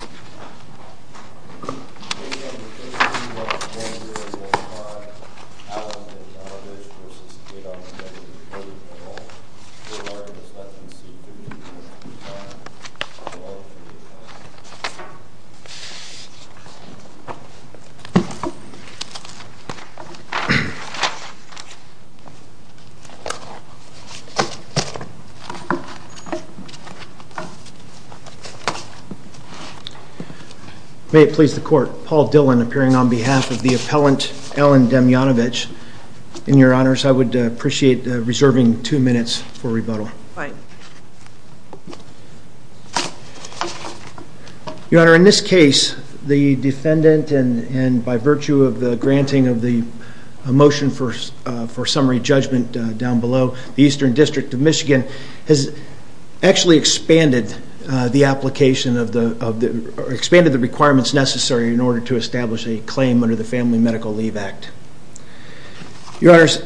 Demyanovich v. Cadon Plating May it please the court, Paul Dillon appearing on behalf of the appellant Ellen Demyanovich. In your honors, I would appreciate reserving two minutes for rebuttal. Right. Your honor, in this case, the defendant, and by virtue of the granting of the motion for summary judgment down below, the Eastern District of Michigan has actually expanded the requirements necessary in order to establish a claim under the Family Medical Leave Act. Your honors,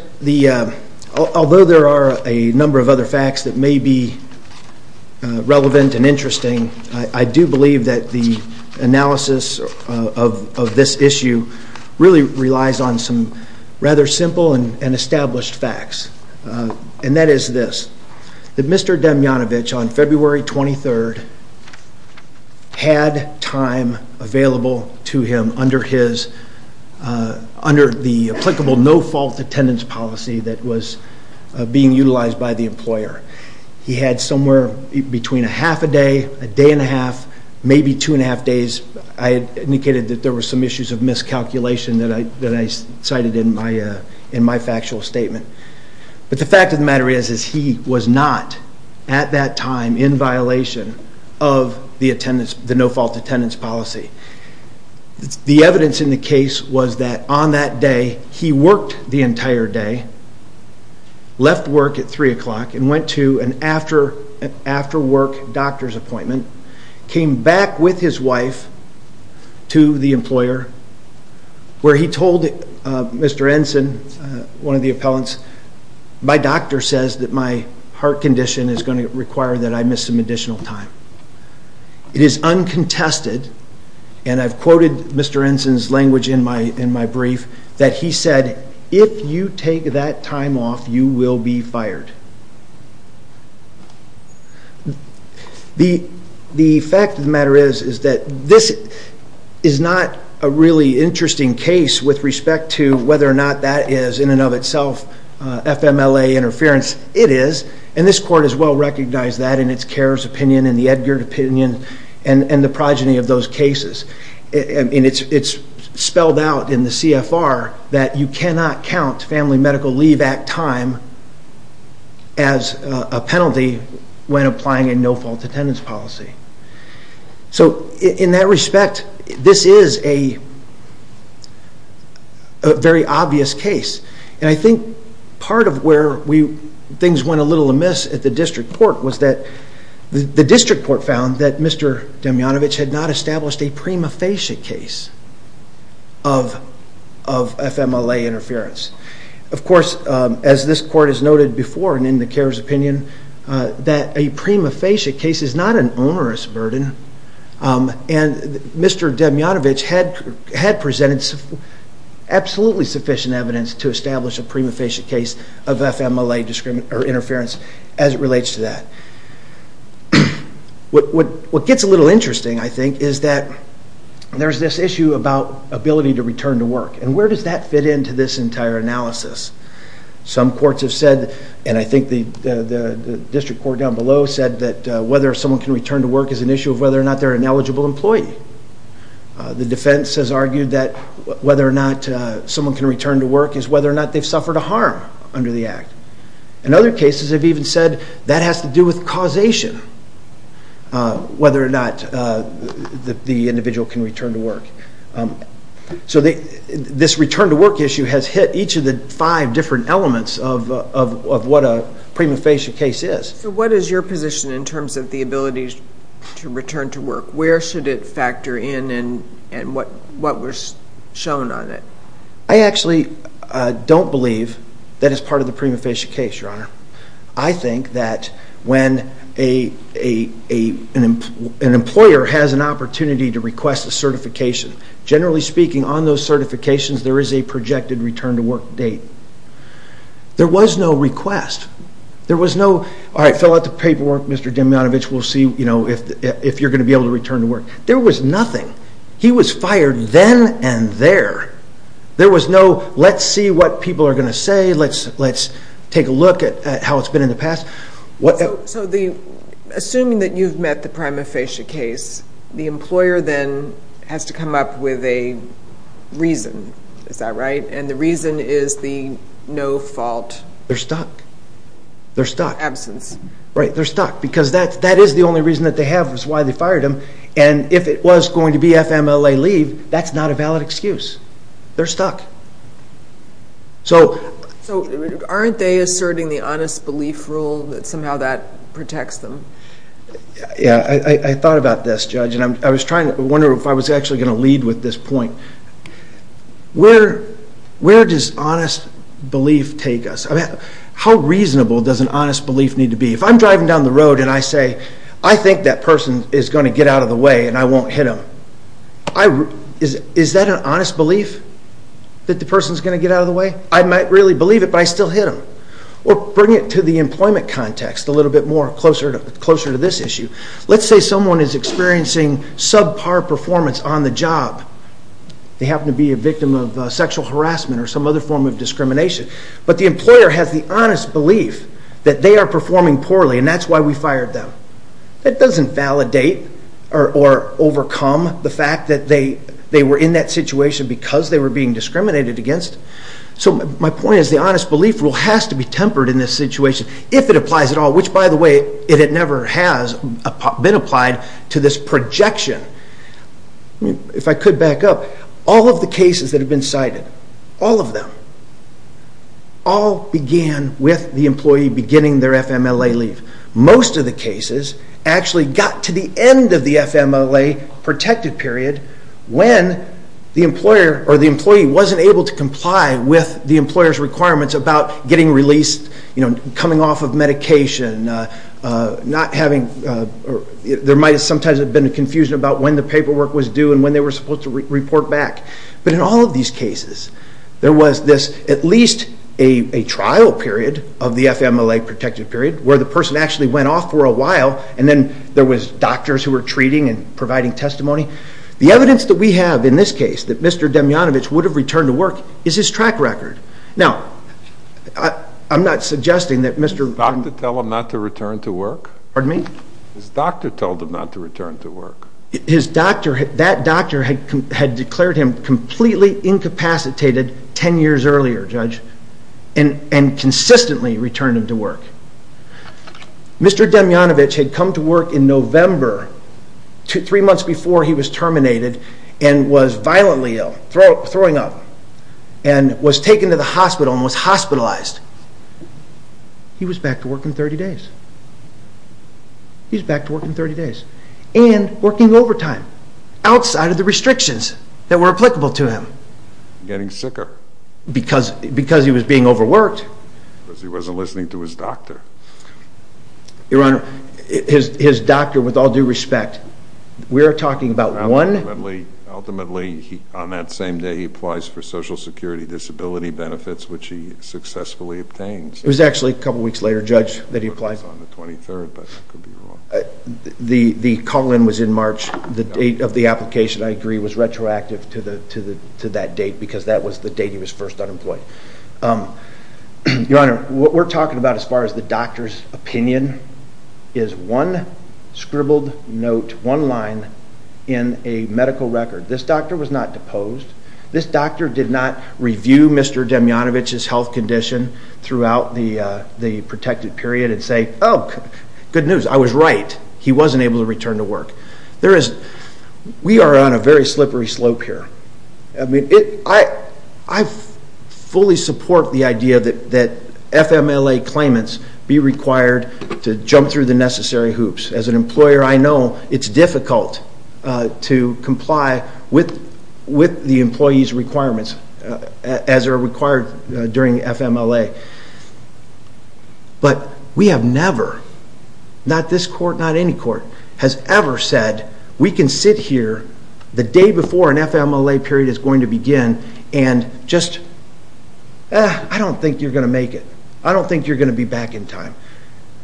although there are a number of other facts that may be relevant and interesting, I do believe that the analysis of this issue really relies on some rather simple and established facts. And that is this. That Mr. Demyanovich, on February 23rd, had time available to him under the applicable no-fault attendance policy that was being utilized by the employer. He had somewhere between a half a day, a day and a half, maybe two and a half days. I indicated that there were some issues of miscalculation that I cited in my factual statement. But the fact of the matter is that he was not, at that time, in violation of the no-fault attendance policy. The evidence in the case was that on that day, he worked the entire day, left work at 3 o'clock and went to an after-work doctor's appointment, came back with his wife to the employer where he told Mr. Ensign, one of the appellants, my doctor says that my heart condition is going to require that I miss some additional time. It is uncontested, and I've quoted Mr. Ensign's language in my brief, that he said, if you take that time off, you will be fired. The fact of the matter is that this is not a really interesting case with respect to whether or not that is, in and of itself, FMLA interference. It is, and this Court has well recognized that in its CARES opinion and the Edgard opinion and the progeny of those cases. It's spelled out in the CFR that you cannot count family medical leave at time as a penalty when applying a no-fault attendance policy. So, in that respect, this is a very obvious case, and I think part of where things went a little amiss at the District Court was that the District Court found that Mr. Demjanovic had not established a prima facie case of FMLA interference. Of course, as this Court has noted before and in the CARES opinion, that a prima facie case is not an onerous burden, and Mr. Demjanovic had presented absolutely sufficient evidence to establish a prima facie case of FMLA interference as it relates to that. What gets a little interesting, I think, is that there's this issue about ability to return to work, and where does that fit into this entire analysis? Some courts have said, and I think the District Court down below said that whether someone can return to work is an issue of whether or not they're an eligible employee. The defense has argued that whether or not someone can return to work is whether or not they've suffered a harm under the Act. In other cases, they've even said that has to do with causation, whether or not the individual can return to work. So, this return to work issue has hit each of the five different elements of what a prima facie case is. So, what is your position in terms of the ability to return to work? Where should it factor in and what was shown on it? I actually don't believe that it's part of the prima facie case, Your Honor. I think that when an employer has an opportunity to request a certification, generally speaking, on those certifications, there is a projected return to work date. There was no request. There was no, all right, fill out the paperwork, Mr. Demjanovic, we'll see if you're going to be able to return to work. There was nothing. He was fired then and there. There was no, let's see what people are going to say, let's take a look at how it's been in the past. So, assuming that you've met the prima facie case, the employer then has to come up with a reason, is that right? And the reason is the no fault absence. They're stuck. They're stuck. Because that is the only reason that they have is why they fired him. And if it was going to be FMLA leave, that's not a valid excuse. They're stuck. So, aren't they asserting the honest belief rule that somehow that protects them? Yeah, I thought about this, Judge, and I was trying to, I wonder if I was actually going to lead with this point. Where does honest belief take us? How reasonable does an honest belief need to be? If I'm driving down the road and I say, I think that person is going to get out of the way and I won't hit him. Is that an honest belief? That the person is going to get out of the way? I might really believe it, but I still hit him. Or bring it to the employment context a little bit more, closer to this issue. Let's say someone is experiencing subpar performance on the job. But the employer has the honest belief that they are performing poorly and that's why we fired them. That doesn't validate or overcome the fact that they were in that situation because they were being discriminated against. So, my point is the honest belief rule has to be tempered in this situation, if it applies at all. Which, by the way, it never has been applied to this projection. If I could back up. All of the cases that have been cited, all of them, all began with the employee beginning their FMLA leave. Most of the cases actually got to the end of the FMLA protected period when the employee wasn't able to comply with the employer's requirements about getting released, coming off of medication, there might sometimes have been a confusion about when the paperwork was due and when they were supposed to report back. But in all of these cases, there was at least a trial period of the FMLA protected period where the person actually went off for a while and then there were doctors who were treating and providing testimony. The evidence that we have in this case that Mr. Demjanovic would have returned to work is his track record. Now, I'm not suggesting that Mr. Did the doctor tell him not to return to work? Pardon me? His doctor told him not to return to work. His doctor, that doctor had declared him completely incapacitated ten years earlier, Judge, and consistently returned him to work. Mr. Demjanovic had come to work in November, three months before he was terminated, and was violently ill, throwing up. And was taken to the hospital and was hospitalized. He was back to work in 30 days. He was back to work in 30 days. And working overtime, outside of the restrictions that were applicable to him. Getting sicker. Because he was being overworked. Because he wasn't listening to his doctor. Your Honor, his doctor, with all due respect, we are talking about one... Ultimately, on that same day, he applies for social security disability benefits, which he successfully obtains. It was actually a couple weeks later, Judge, that he applied. It was on the 23rd, but I could be wrong. The call-in was in March. The date of the application, I agree, was retroactive to that date, because that was the date he was first unemployed. Your Honor, what we're talking about, as far as the doctor's opinion, is one scribbled note, one line, in a medical record. This doctor was not deposed. This doctor did not review Mr. Demjanovic's health condition throughout the protected period and say, Oh, good news, I was right, he wasn't able to return to work. We are on a very slippery slope here. I fully support the idea that FMLA claimants be required to jump through the necessary hoops. As an employer, I know it's difficult to comply with the employee's requirements, as are required during FMLA. But we have never, not this court, not any court, has ever said, We can sit here the day before an FMLA period is going to begin and just, I don't think you're going to make it. I don't think you're going to be back in time.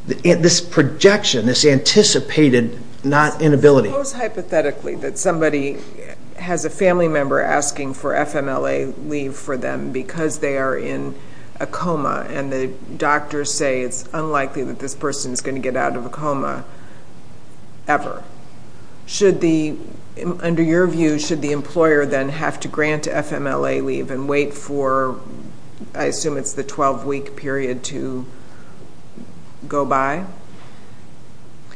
This projection, this anticipated not inability. Suppose hypothetically that somebody has a family member asking for FMLA leave for them because they are in a coma and the doctors say it's unlikely that this person is going to get out of a coma ever. Should the, under your view, should the employer then have to grant FMLA leave and wait for, I assume it's the 12-week period, to go by?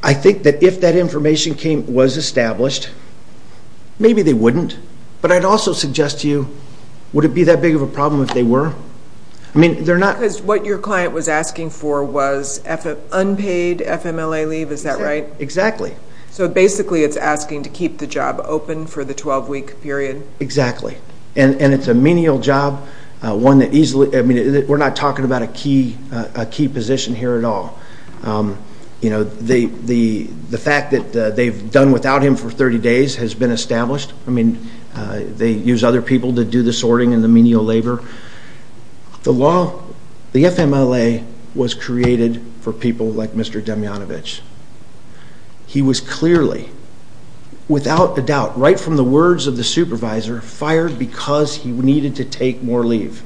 I think that if that information was established, maybe they wouldn't. But I'd also suggest to you, would it be that big of a problem if they were? Because what your client was asking for was unpaid FMLA leave, is that right? Exactly. So basically it's asking to keep the job open for the 12-week period? Exactly. And it's a menial job, one that easily, I mean, we're not talking about a key position here at all. You know, the fact that they've done without him for 30 days has been established. I mean, they use other people to do the sorting and the menial labor. The law, the FMLA was created for people like Mr. Demjanovic. He was clearly, without a doubt, right from the words of the supervisor, fired because he needed to take more leave.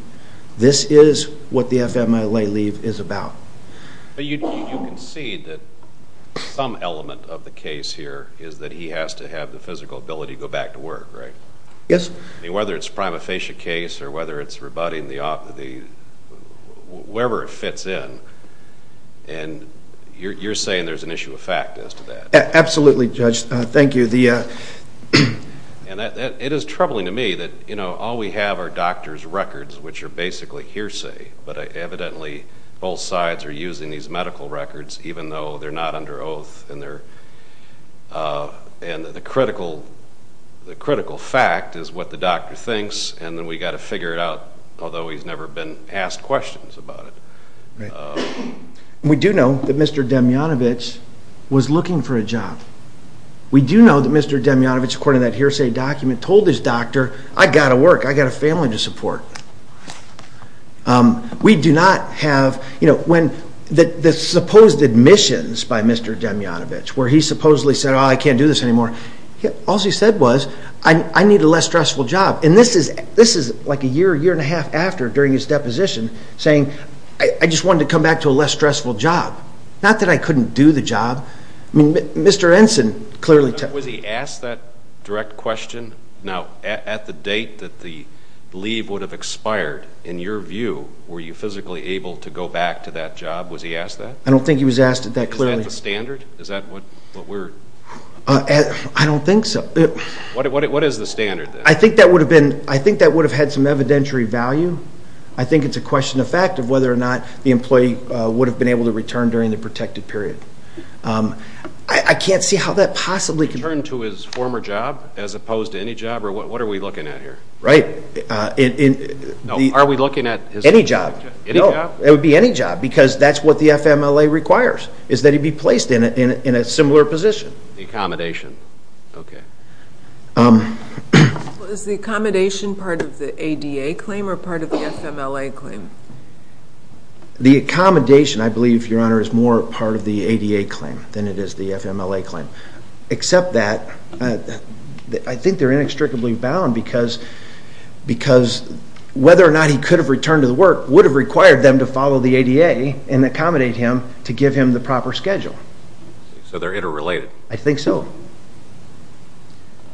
This is what the FMLA leave is about. But you concede that some element of the case here is that he has to have the physical ability to go back to work, right? Yes. I mean, whether it's a prima facie case or whether it's rebutting the, wherever it fits in. And you're saying there's an issue of fact as to that? Absolutely, Judge. Thank you. It is troubling to me that, you know, all we have are doctor's records, which are basically hearsay. But evidently both sides are using these medical records, even though they're not under oath. And the critical fact is what the doctor thinks, and then we've got to figure it out, although he's never been asked questions about it. We do know that Mr. Demjanovic was looking for a job. We do know that Mr. Demjanovic, according to that hearsay document, told his doctor, I've got to work. I've got a family to support. We do not have, you know, when the supposed admissions by Mr. Demjanovic, where he supposedly said, oh, I can't do this anymore. All he said was, I need a less stressful job. And this is like a year, year and a half after, during his deposition, saying, I just wanted to come back to a less stressful job. Not that I couldn't do the job. I mean, Mr. Ensign clearly told me. Was he asked that direct question? Now, at the date that the leave would have expired, in your view, were you physically able to go back to that job? Was he asked that? I don't think he was asked that clearly. Is that the standard? Is that what we're? I don't think so. What is the standard, then? I think that would have had some evidentiary value. I think it's a question of fact of whether or not the employee would have been able to return during the protected period. I can't see how that possibly could be. Return to his former job as opposed to any job? Or what are we looking at here? Right. No, are we looking at his former job? Any job. Any job? It would be any job because that's what the FMLA requires, is that he be placed in a similar position. The accommodation. Okay. Is the accommodation part of the ADA claim or part of the FMLA claim? The accommodation, I believe, Your Honor, is more part of the ADA claim than it is the FMLA claim. Except that I think they're inextricably bound because whether or not he could have returned to the work would have required them to follow the ADA and accommodate him to give him the proper schedule. So they're interrelated. I think so.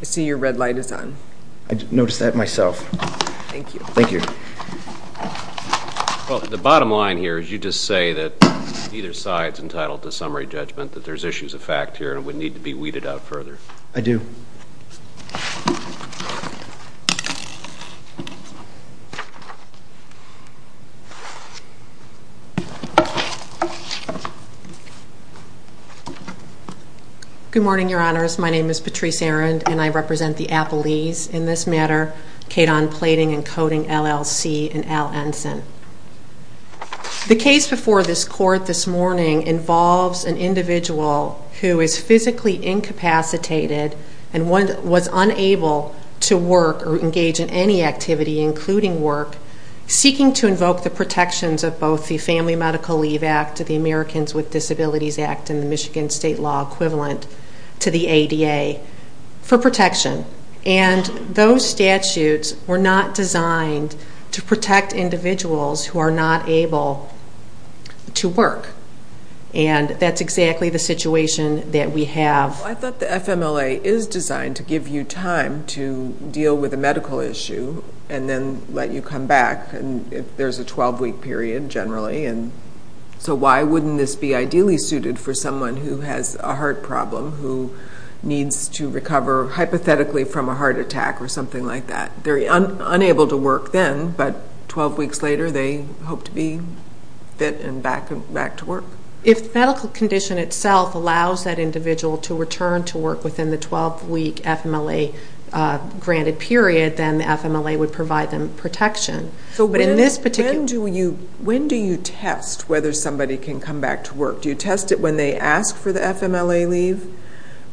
I see your red light is on. I noticed that myself. Thank you. Thank you. The bottom line here is you just say that either side's entitled to summary judgment, that there's issues of fact here and it would need to be weeded out further. I do. Good morning, Your Honors. My name is Patrice Arend, and I represent the appellees in this matter, Kedon Plating and Coding, LLC, and Al Ensign. The case before this court this morning involves an individual who is physically incapacitated and was unable to work or engage in any activity, including work, seeking to invoke the protections of both the Family Medical Leave Act, the Americans with Disabilities Act, and the Michigan State law equivalent to the ADA for protection. And those statutes were not designed to protect individuals who are not able to work. And that's exactly the situation that we have. I thought the FMLA is designed to give you time to deal with a medical issue and then let you come back if there's a 12-week period generally. So why wouldn't this be ideally suited for someone who has a heart problem, who needs to recover hypothetically from a heart attack or something like that? They're unable to work then, but 12 weeks later they hope to be fit and back to work. If the medical condition itself allows that individual to return to work within the 12-week FMLA granted period, then the FMLA would provide them protection. When do you test whether somebody can come back to work? Do you test it when they ask for the FMLA leave,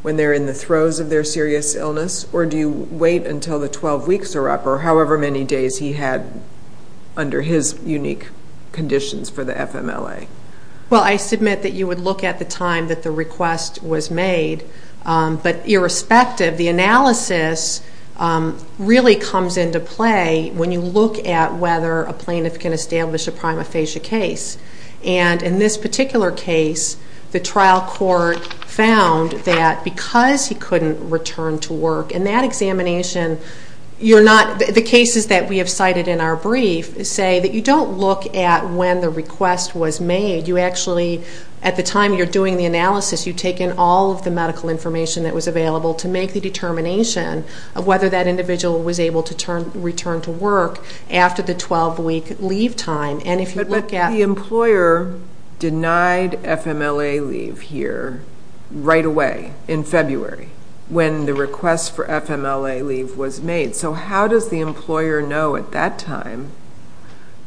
when they're in the throes of their serious illness, or do you wait until the 12 weeks are up or however many days he had under his unique conditions for the FMLA? Well, I submit that you would look at the time that the request was made. But irrespective, the analysis really comes into play when you look at whether a plaintiff can establish a prima facie case. And in this particular case, the trial court found that because he couldn't return to work in that examination, the cases that we have cited in our brief say that you don't look at when the request was made. You actually, at the time you're doing the analysis, you've taken all of the medical information that was available to make the determination of whether that individual was able to return to work after the 12-week leave time. But the employer denied FMLA leave here right away in February when the request for FMLA leave was made. So how does the employer know at that time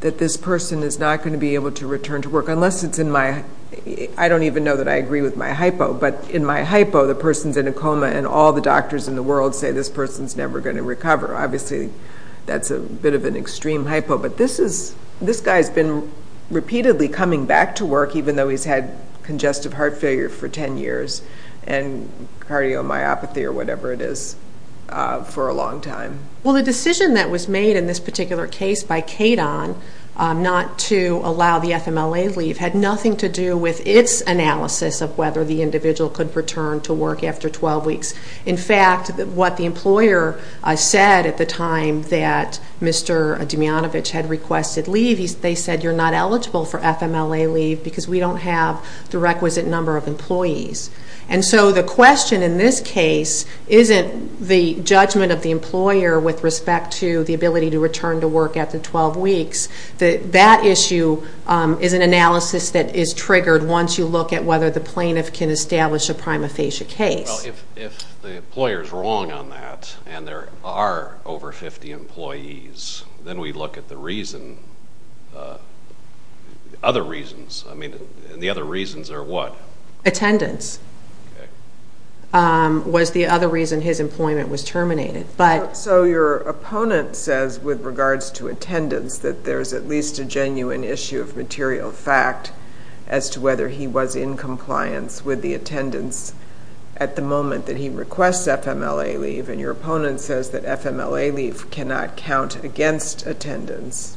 that this person is not going to be able to return to work? I don't even know that I agree with my hypo, but in my hypo, the person's in a coma and all the doctors in the world say this person's never going to recover. Obviously, that's a bit of an extreme hypo, but this guy's been repeatedly coming back to work even though he's had congestive heart failure for 10 years and cardiomyopathy or whatever it is for a long time. Well, the decision that was made in this particular case by KADON not to allow the FMLA leave had nothing to do with its analysis of whether the individual could return to work after 12 weeks. In fact, what the employer said at the time that Mr. Demyanovic had requested leave, they said you're not eligible for FMLA leave because we don't have the requisite number of employees. And so the question in this case isn't the judgment of the employer with respect to the ability to return to work after 12 weeks. That issue is an analysis that is triggered once you look at whether the plaintiff can establish a prima facie case. Well, if the employer's wrong on that and there are over 50 employees, then we look at the other reasons. I mean, the other reasons are what? Attendance was the other reason his employment was terminated. So your opponent says with regards to attendance that there's at least a genuine issue of material fact as to whether he was in compliance with the attendance at the moment that he requests FMLA leave. And your opponent says that FMLA leave cannot count against attendance.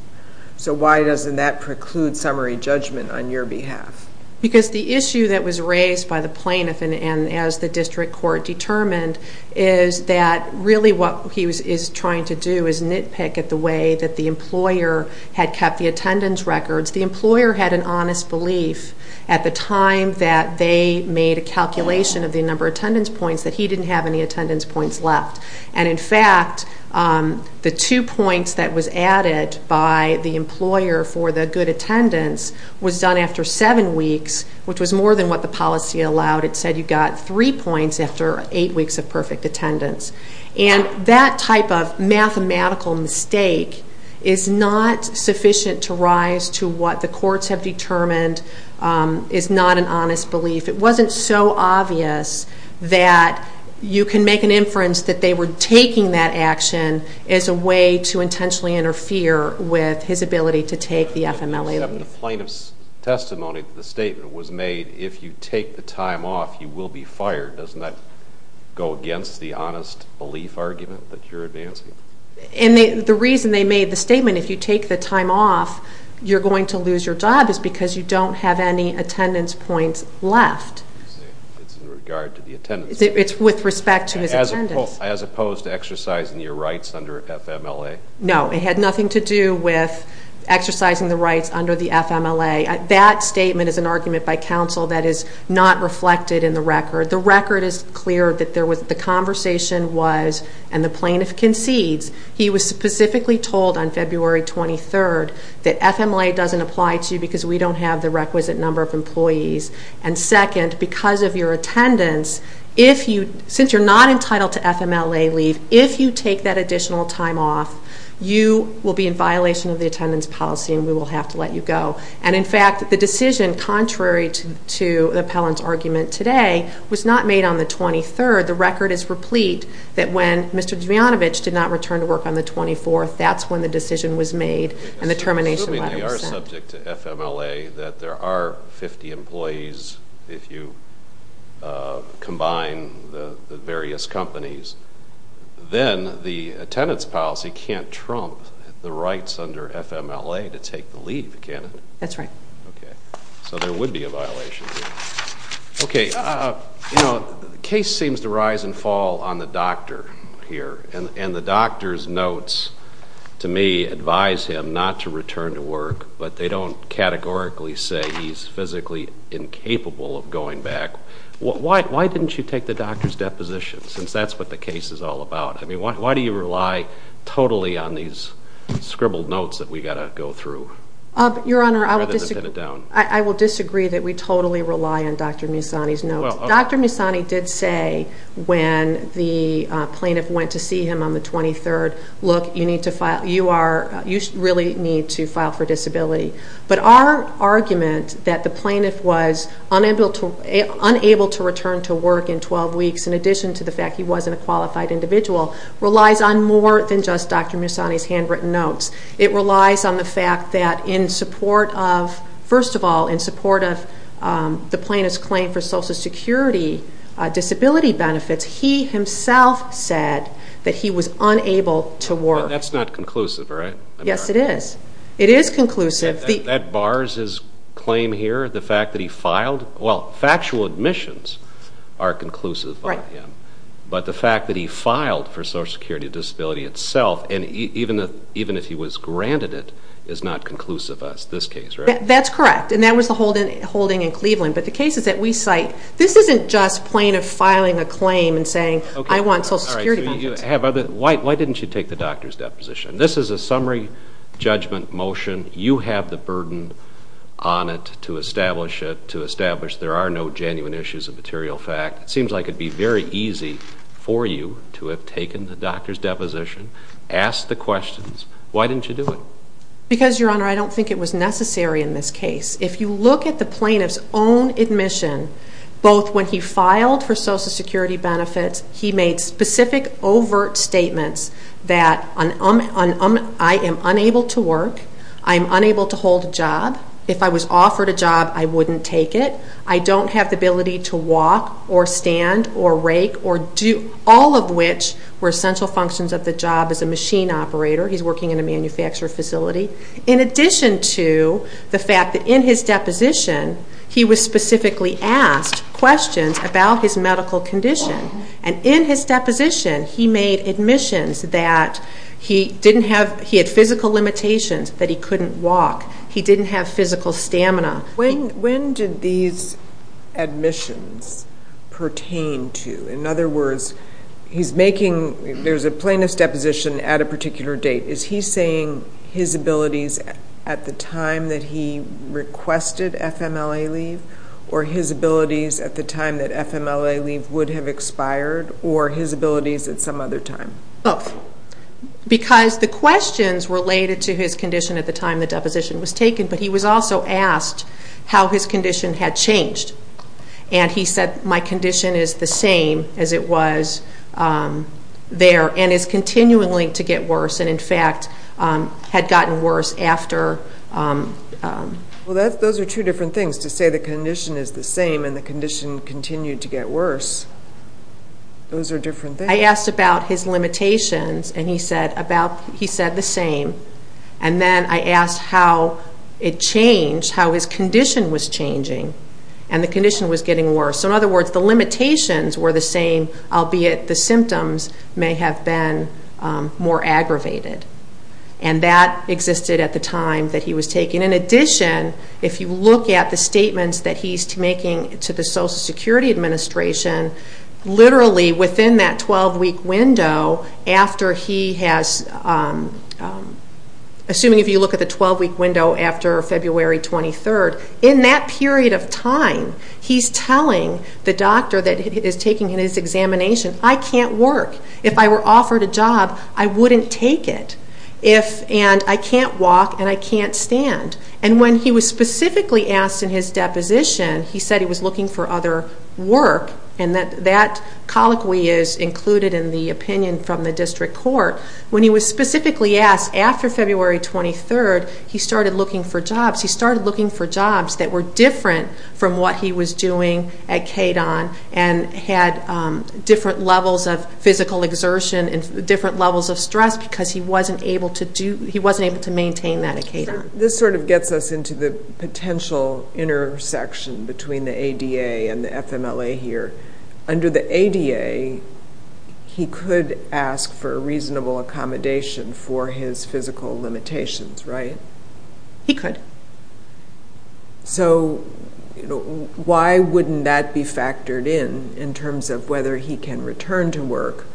So why doesn't that preclude summary judgment on your behalf? Because the issue that was raised by the plaintiff and as the district court determined is that really what he is trying to do is nitpick at the way that the employer had kept the attendance records. The employer had an honest belief at the time that they made a calculation of the number of attendance points that he didn't have any attendance points left. And, in fact, the two points that was added by the employer for the good attendance was done after seven weeks, which was more than what the policy allowed. It said you got three points after eight weeks of perfect attendance. And that type of mathematical mistake is not sufficient to rise to what the courts have determined is not an honest belief. It wasn't so obvious that you can make an inference that they were taking that action as a way to intentionally interfere with his ability to take the FMLA leave. The plaintiff's testimony to the statement was made, if you take the time off, you will be fired. Doesn't that go against the honest belief argument that you're advancing? And the reason they made the statement, if you take the time off, you're going to lose your job is because you don't have any attendance points left. It's in regard to the attendance. It's with respect to his attendance. As opposed to exercising your rights under FMLA? No, it had nothing to do with exercising the rights under the FMLA. That statement is an argument by counsel that is not reflected in the record. The record is clear that the conversation was, and the plaintiff concedes, he was specifically told on February 23rd that FMLA doesn't apply to you because we don't have the requisite number of employees. And second, because of your attendance, since you're not entitled to FMLA leave, if you take that additional time off, you will be in violation of the attendance policy and we will have to let you go. And in fact, the decision, contrary to the appellant's argument today, was not made on the 23rd. The record is replete that when Mr. Dvianovic did not return to work on the 24th, that's when the decision was made and the termination letter was sent. If we are subject to FMLA, that there are 50 employees if you combine the various companies, then the attendance policy can't trump the rights under FMLA to take the leave, can it? That's right. Okay. So there would be a violation here. Okay. You know, the case seems to rise and fall on the doctor here, and the doctor's notes, to me, advise him not to return to work, but they don't categorically say he's physically incapable of going back. Why didn't you take the doctor's deposition since that's what the case is all about? I mean, why do you rely totally on these scribbled notes that we've got to go through? Your Honor, I will disagree that we totally rely on Dr. Musani's notes. Dr. Musani did say when the plaintiff went to see him on the 23rd, look, you really need to file for disability. But our argument that the plaintiff was unable to return to work in 12 weeks, in addition to the fact he wasn't a qualified individual, relies on more than just Dr. Musani's handwritten notes. It relies on the fact that in support of, first of all, in support of the plaintiff's claim for Social Security disability benefits, he himself said that he was unable to work. That's not conclusive, right? Yes, it is. It is conclusive. That bars his claim here, the fact that he filed? Well, factual admissions are conclusive on him. Right. But the fact that he filed for Social Security disability itself, and even if he was granted it, is not conclusive as this case, right? That's correct, and that was the holding in Cleveland. But the cases that we cite, this isn't just plaintiff filing a claim and saying I want Social Security benefits. Why didn't you take the doctor's deposition? This is a summary judgment motion. You have the burden on it to establish it, to establish there are no genuine issues of material fact. It seems like it would be very easy for you to have taken the doctor's deposition, asked the questions. Why didn't you do it? Because, Your Honor, I don't think it was necessary in this case. If you look at the plaintiff's own admission, both when he filed for Social Security benefits, he made specific overt statements that I am unable to work, I am unable to hold a job. If I was offered a job, I wouldn't take it. I don't have the ability to walk or stand or rake or do all of which were essential functions of the job as a machine operator. He's working in a manufacturer facility. In addition to the fact that in his deposition he was specifically asked questions about his medical condition, and in his deposition he made admissions that he didn't have, he had physical limitations, that he couldn't walk. He didn't have physical stamina. When did these admissions pertain to? In other words, there's a plaintiff's deposition at a particular date. Is he saying his abilities at the time that he requested FMLA leave, or his abilities at the time that FMLA leave would have expired, or his abilities at some other time? Both, because the questions related to his condition at the time the deposition was taken, but he was also asked how his condition had changed. He said, my condition is the same as it was there and is continually to get worse, and in fact had gotten worse after. Those are two different things, to say the condition is the same and the condition continued to get worse. Those are different things. I asked about his limitations, and he said the same. Then I asked how it changed, how his condition was changing, and the condition was getting worse. In other words, the limitations were the same, albeit the symptoms may have been more aggravated. That existed at the time that he was taken. In addition, if you look at the statements that he's making to the Social Security Administration, literally within that 12-week window after he has, assuming if you look at the 12-week window after February 23rd, in that period of time he's telling the doctor that is taking his examination, I can't work. If I were offered a job, I wouldn't take it, and I can't walk and I can't stand. When he was specifically asked in his deposition, he said he was looking for other work, and that colloquy is included in the opinion from the district court. When he was specifically asked after February 23rd, he started looking for jobs. He started looking for jobs that were different from what he was doing at KDON and had different levels of physical exertion and different levels of stress because he wasn't able to maintain that at KDON. This sort of gets us into the potential intersection between the ADA and the FMLA here. Under the ADA, he could ask for reasonable accommodation for his physical limitations, right? He could. So why wouldn't that be factored in, in terms of whether he can return to work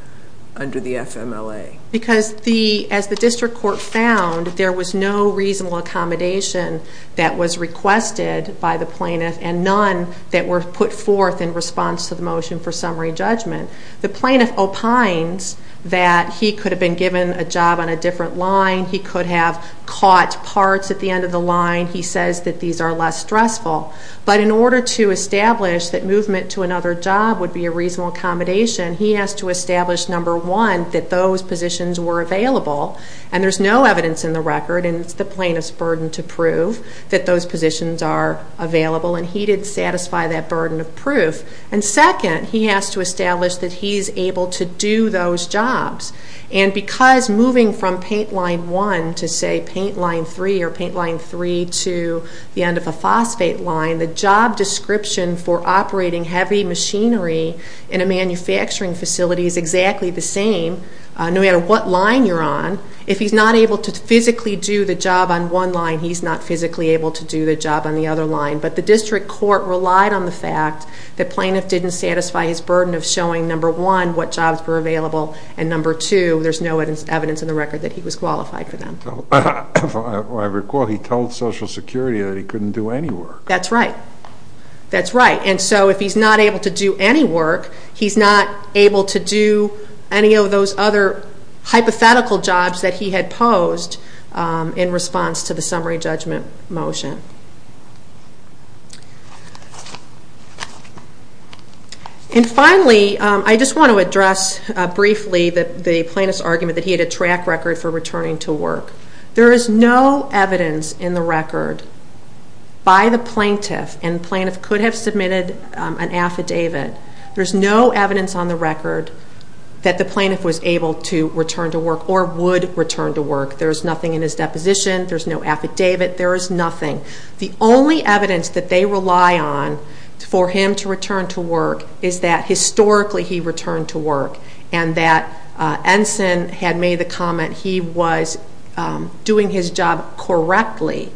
under the FMLA? Because as the district court found, there was no reasonable accommodation that was requested by the plaintiff and none that were put forth in response to the motion for summary judgment. The plaintiff opines that he could have been given a job on a different line. He could have caught parts at the end of the line. He says that these are less stressful. But in order to establish that movement to another job would be a reasonable accommodation, he has to establish, number one, that those positions were available. And there's no evidence in the record, and it's the plaintiff's burden to prove, that those positions are available. And he didn't satisfy that burden of proof. And second, he has to establish that he's able to do those jobs. And because moving from paint line one to, say, paint line three or paint line three to the end of a phosphate line, the job description for operating heavy machinery in a manufacturing facility is exactly the same, no matter what line you're on. If he's not able to physically do the job on one line, he's not physically able to do the job on the other line. But the district court relied on the fact that plaintiff didn't satisfy his burden of showing, number one, what jobs were available, and number two, there's no evidence in the record that he was qualified for them. I recall he told Social Security that he couldn't do any work. That's right. That's right, and so if he's not able to do any work, he's not able to do any of those other hypothetical jobs that he had posed in response to the summary judgment motion. And finally, I just want to address briefly the plaintiff's argument that he had a track record for returning to work. There is no evidence in the record by the plaintiff, and the plaintiff could have submitted an affidavit, there's no evidence on the record that the plaintiff was able to return to work or would return to work. There's nothing in his deposition, there's no affidavit, there is nothing. The only evidence that they rely on for him to return to work is that historically he returned to work and that Ensign had made the comment he was doing his job correctly.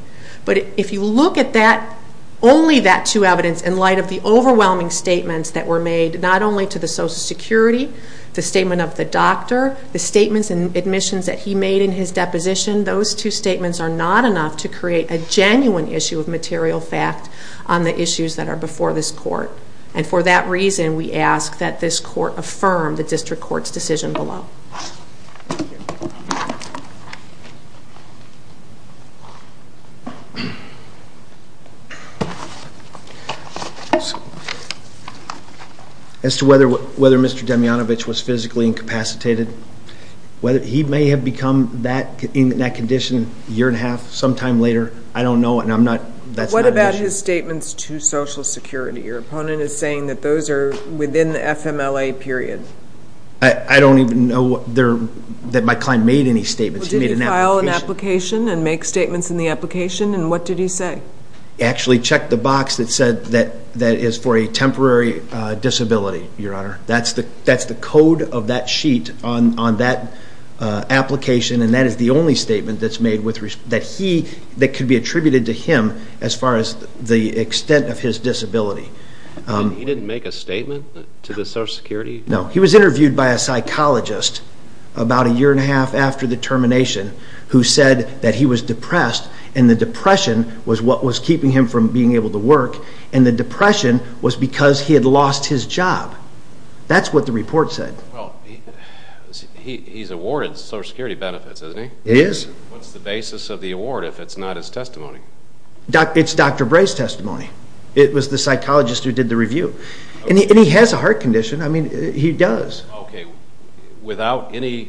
But if you look at that, only that two evidence in light of the overwhelming statements that were made, not only to the Social Security, the statement of the doctor, the statements and admissions that he made in his deposition, those two statements are not enough to create a genuine issue of material fact on the issues that are before this court. And for that reason, we ask that this court affirm the District Court's decision below. Thank you. As to whether Mr. Demjanovic was physically incapacitated, he may have become in that condition a year and a half, sometime later, I don't know and I'm not, that's not an issue. What about his statements to Social Security? Your opponent is saying that those are within the FMLA period. I don't even know that my client made any statements. He made an application. Did he file an application and make statements in the application and what did he say? He actually checked the box that said that is for a temporary disability, Your Honor. That's the code of that sheet on that application and that is the only statement that's made that could be attributed to him as far as the extent of his disability. He didn't make a statement to the Social Security? No, he was interviewed by a psychologist about a year and a half after the termination who said that he was depressed and the depression was what was keeping him from being able to work and the depression was because he had lost his job. That's what the report said. He's awarded Social Security benefits, isn't he? He is. What's the basis of the award if it's not his testimony? It's Dr. Bray's testimony. It was the psychologist who did the review. And he has a heart condition. I mean, he does. Okay. Without any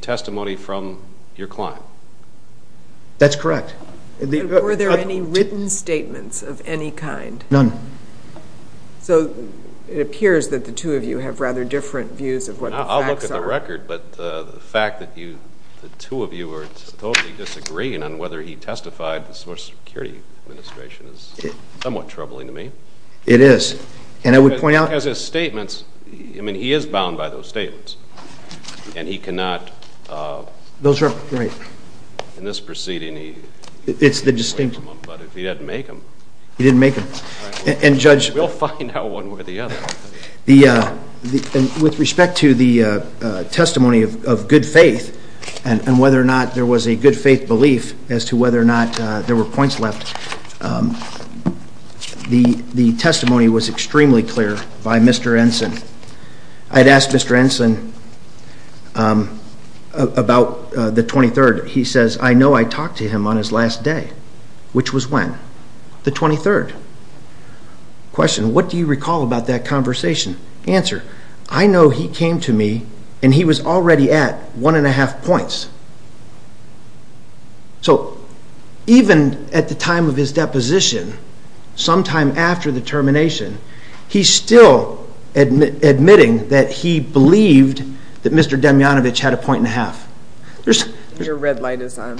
testimony from your client? That's correct. Were there any written statements of any kind? None. So it appears that the two of you have rather different views of what the facts are. I'll look at the record, but the fact that the two of you are totally disagreeing on whether he testified to the Social Security Administration is somewhat troubling to me. It is. And I would point out- Because his statements, I mean, he is bound by those statements. And he cannot- Those are- Right. In this proceeding, he- It's the distinction. But if he didn't make them- He didn't make them. And Judge- We'll find out one way or the other. With respect to the testimony of good faith and whether or not there was a good faith belief as to whether or not there were points left, the testimony was extremely clear by Mr. Ensign. I had asked Mr. Ensign about the 23rd. He says, I know I talked to him on his last day. Which was when? The 23rd. Question, what do you recall about that conversation? Answer, I know he came to me and he was already at one and a half points. So even at the time of his deposition, sometime after the termination, he's still admitting that he believed that Mr. Demjanovic had a point and a half. Your red light is on.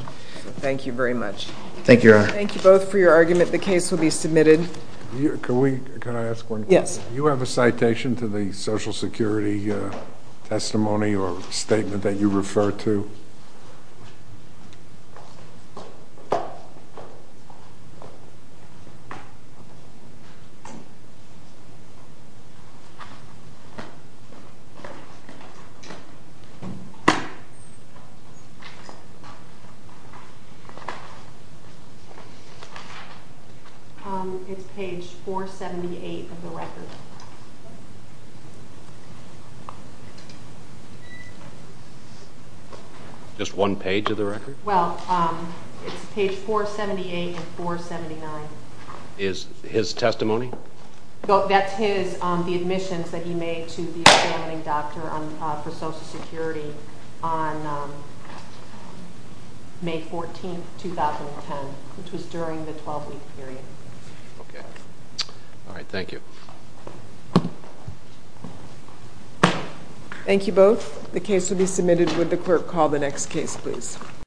Thank you very much. Thank you, Your Honor. Thank you both for your argument. The case will be submitted. Can I ask one question? Yes. Do you have a citation to the Social Security testimony or statement that you refer to? It's page 478 of the record. Just one page of the record? Well, it's page 478 and 479. Is his testimony? That's the admissions that he made to the examining doctor for Social Security on May 14, 2010, which was during the 12-week period. Okay. All right. Thank you. Thank you both. The case will be submitted. Would the clerk call the next case, please?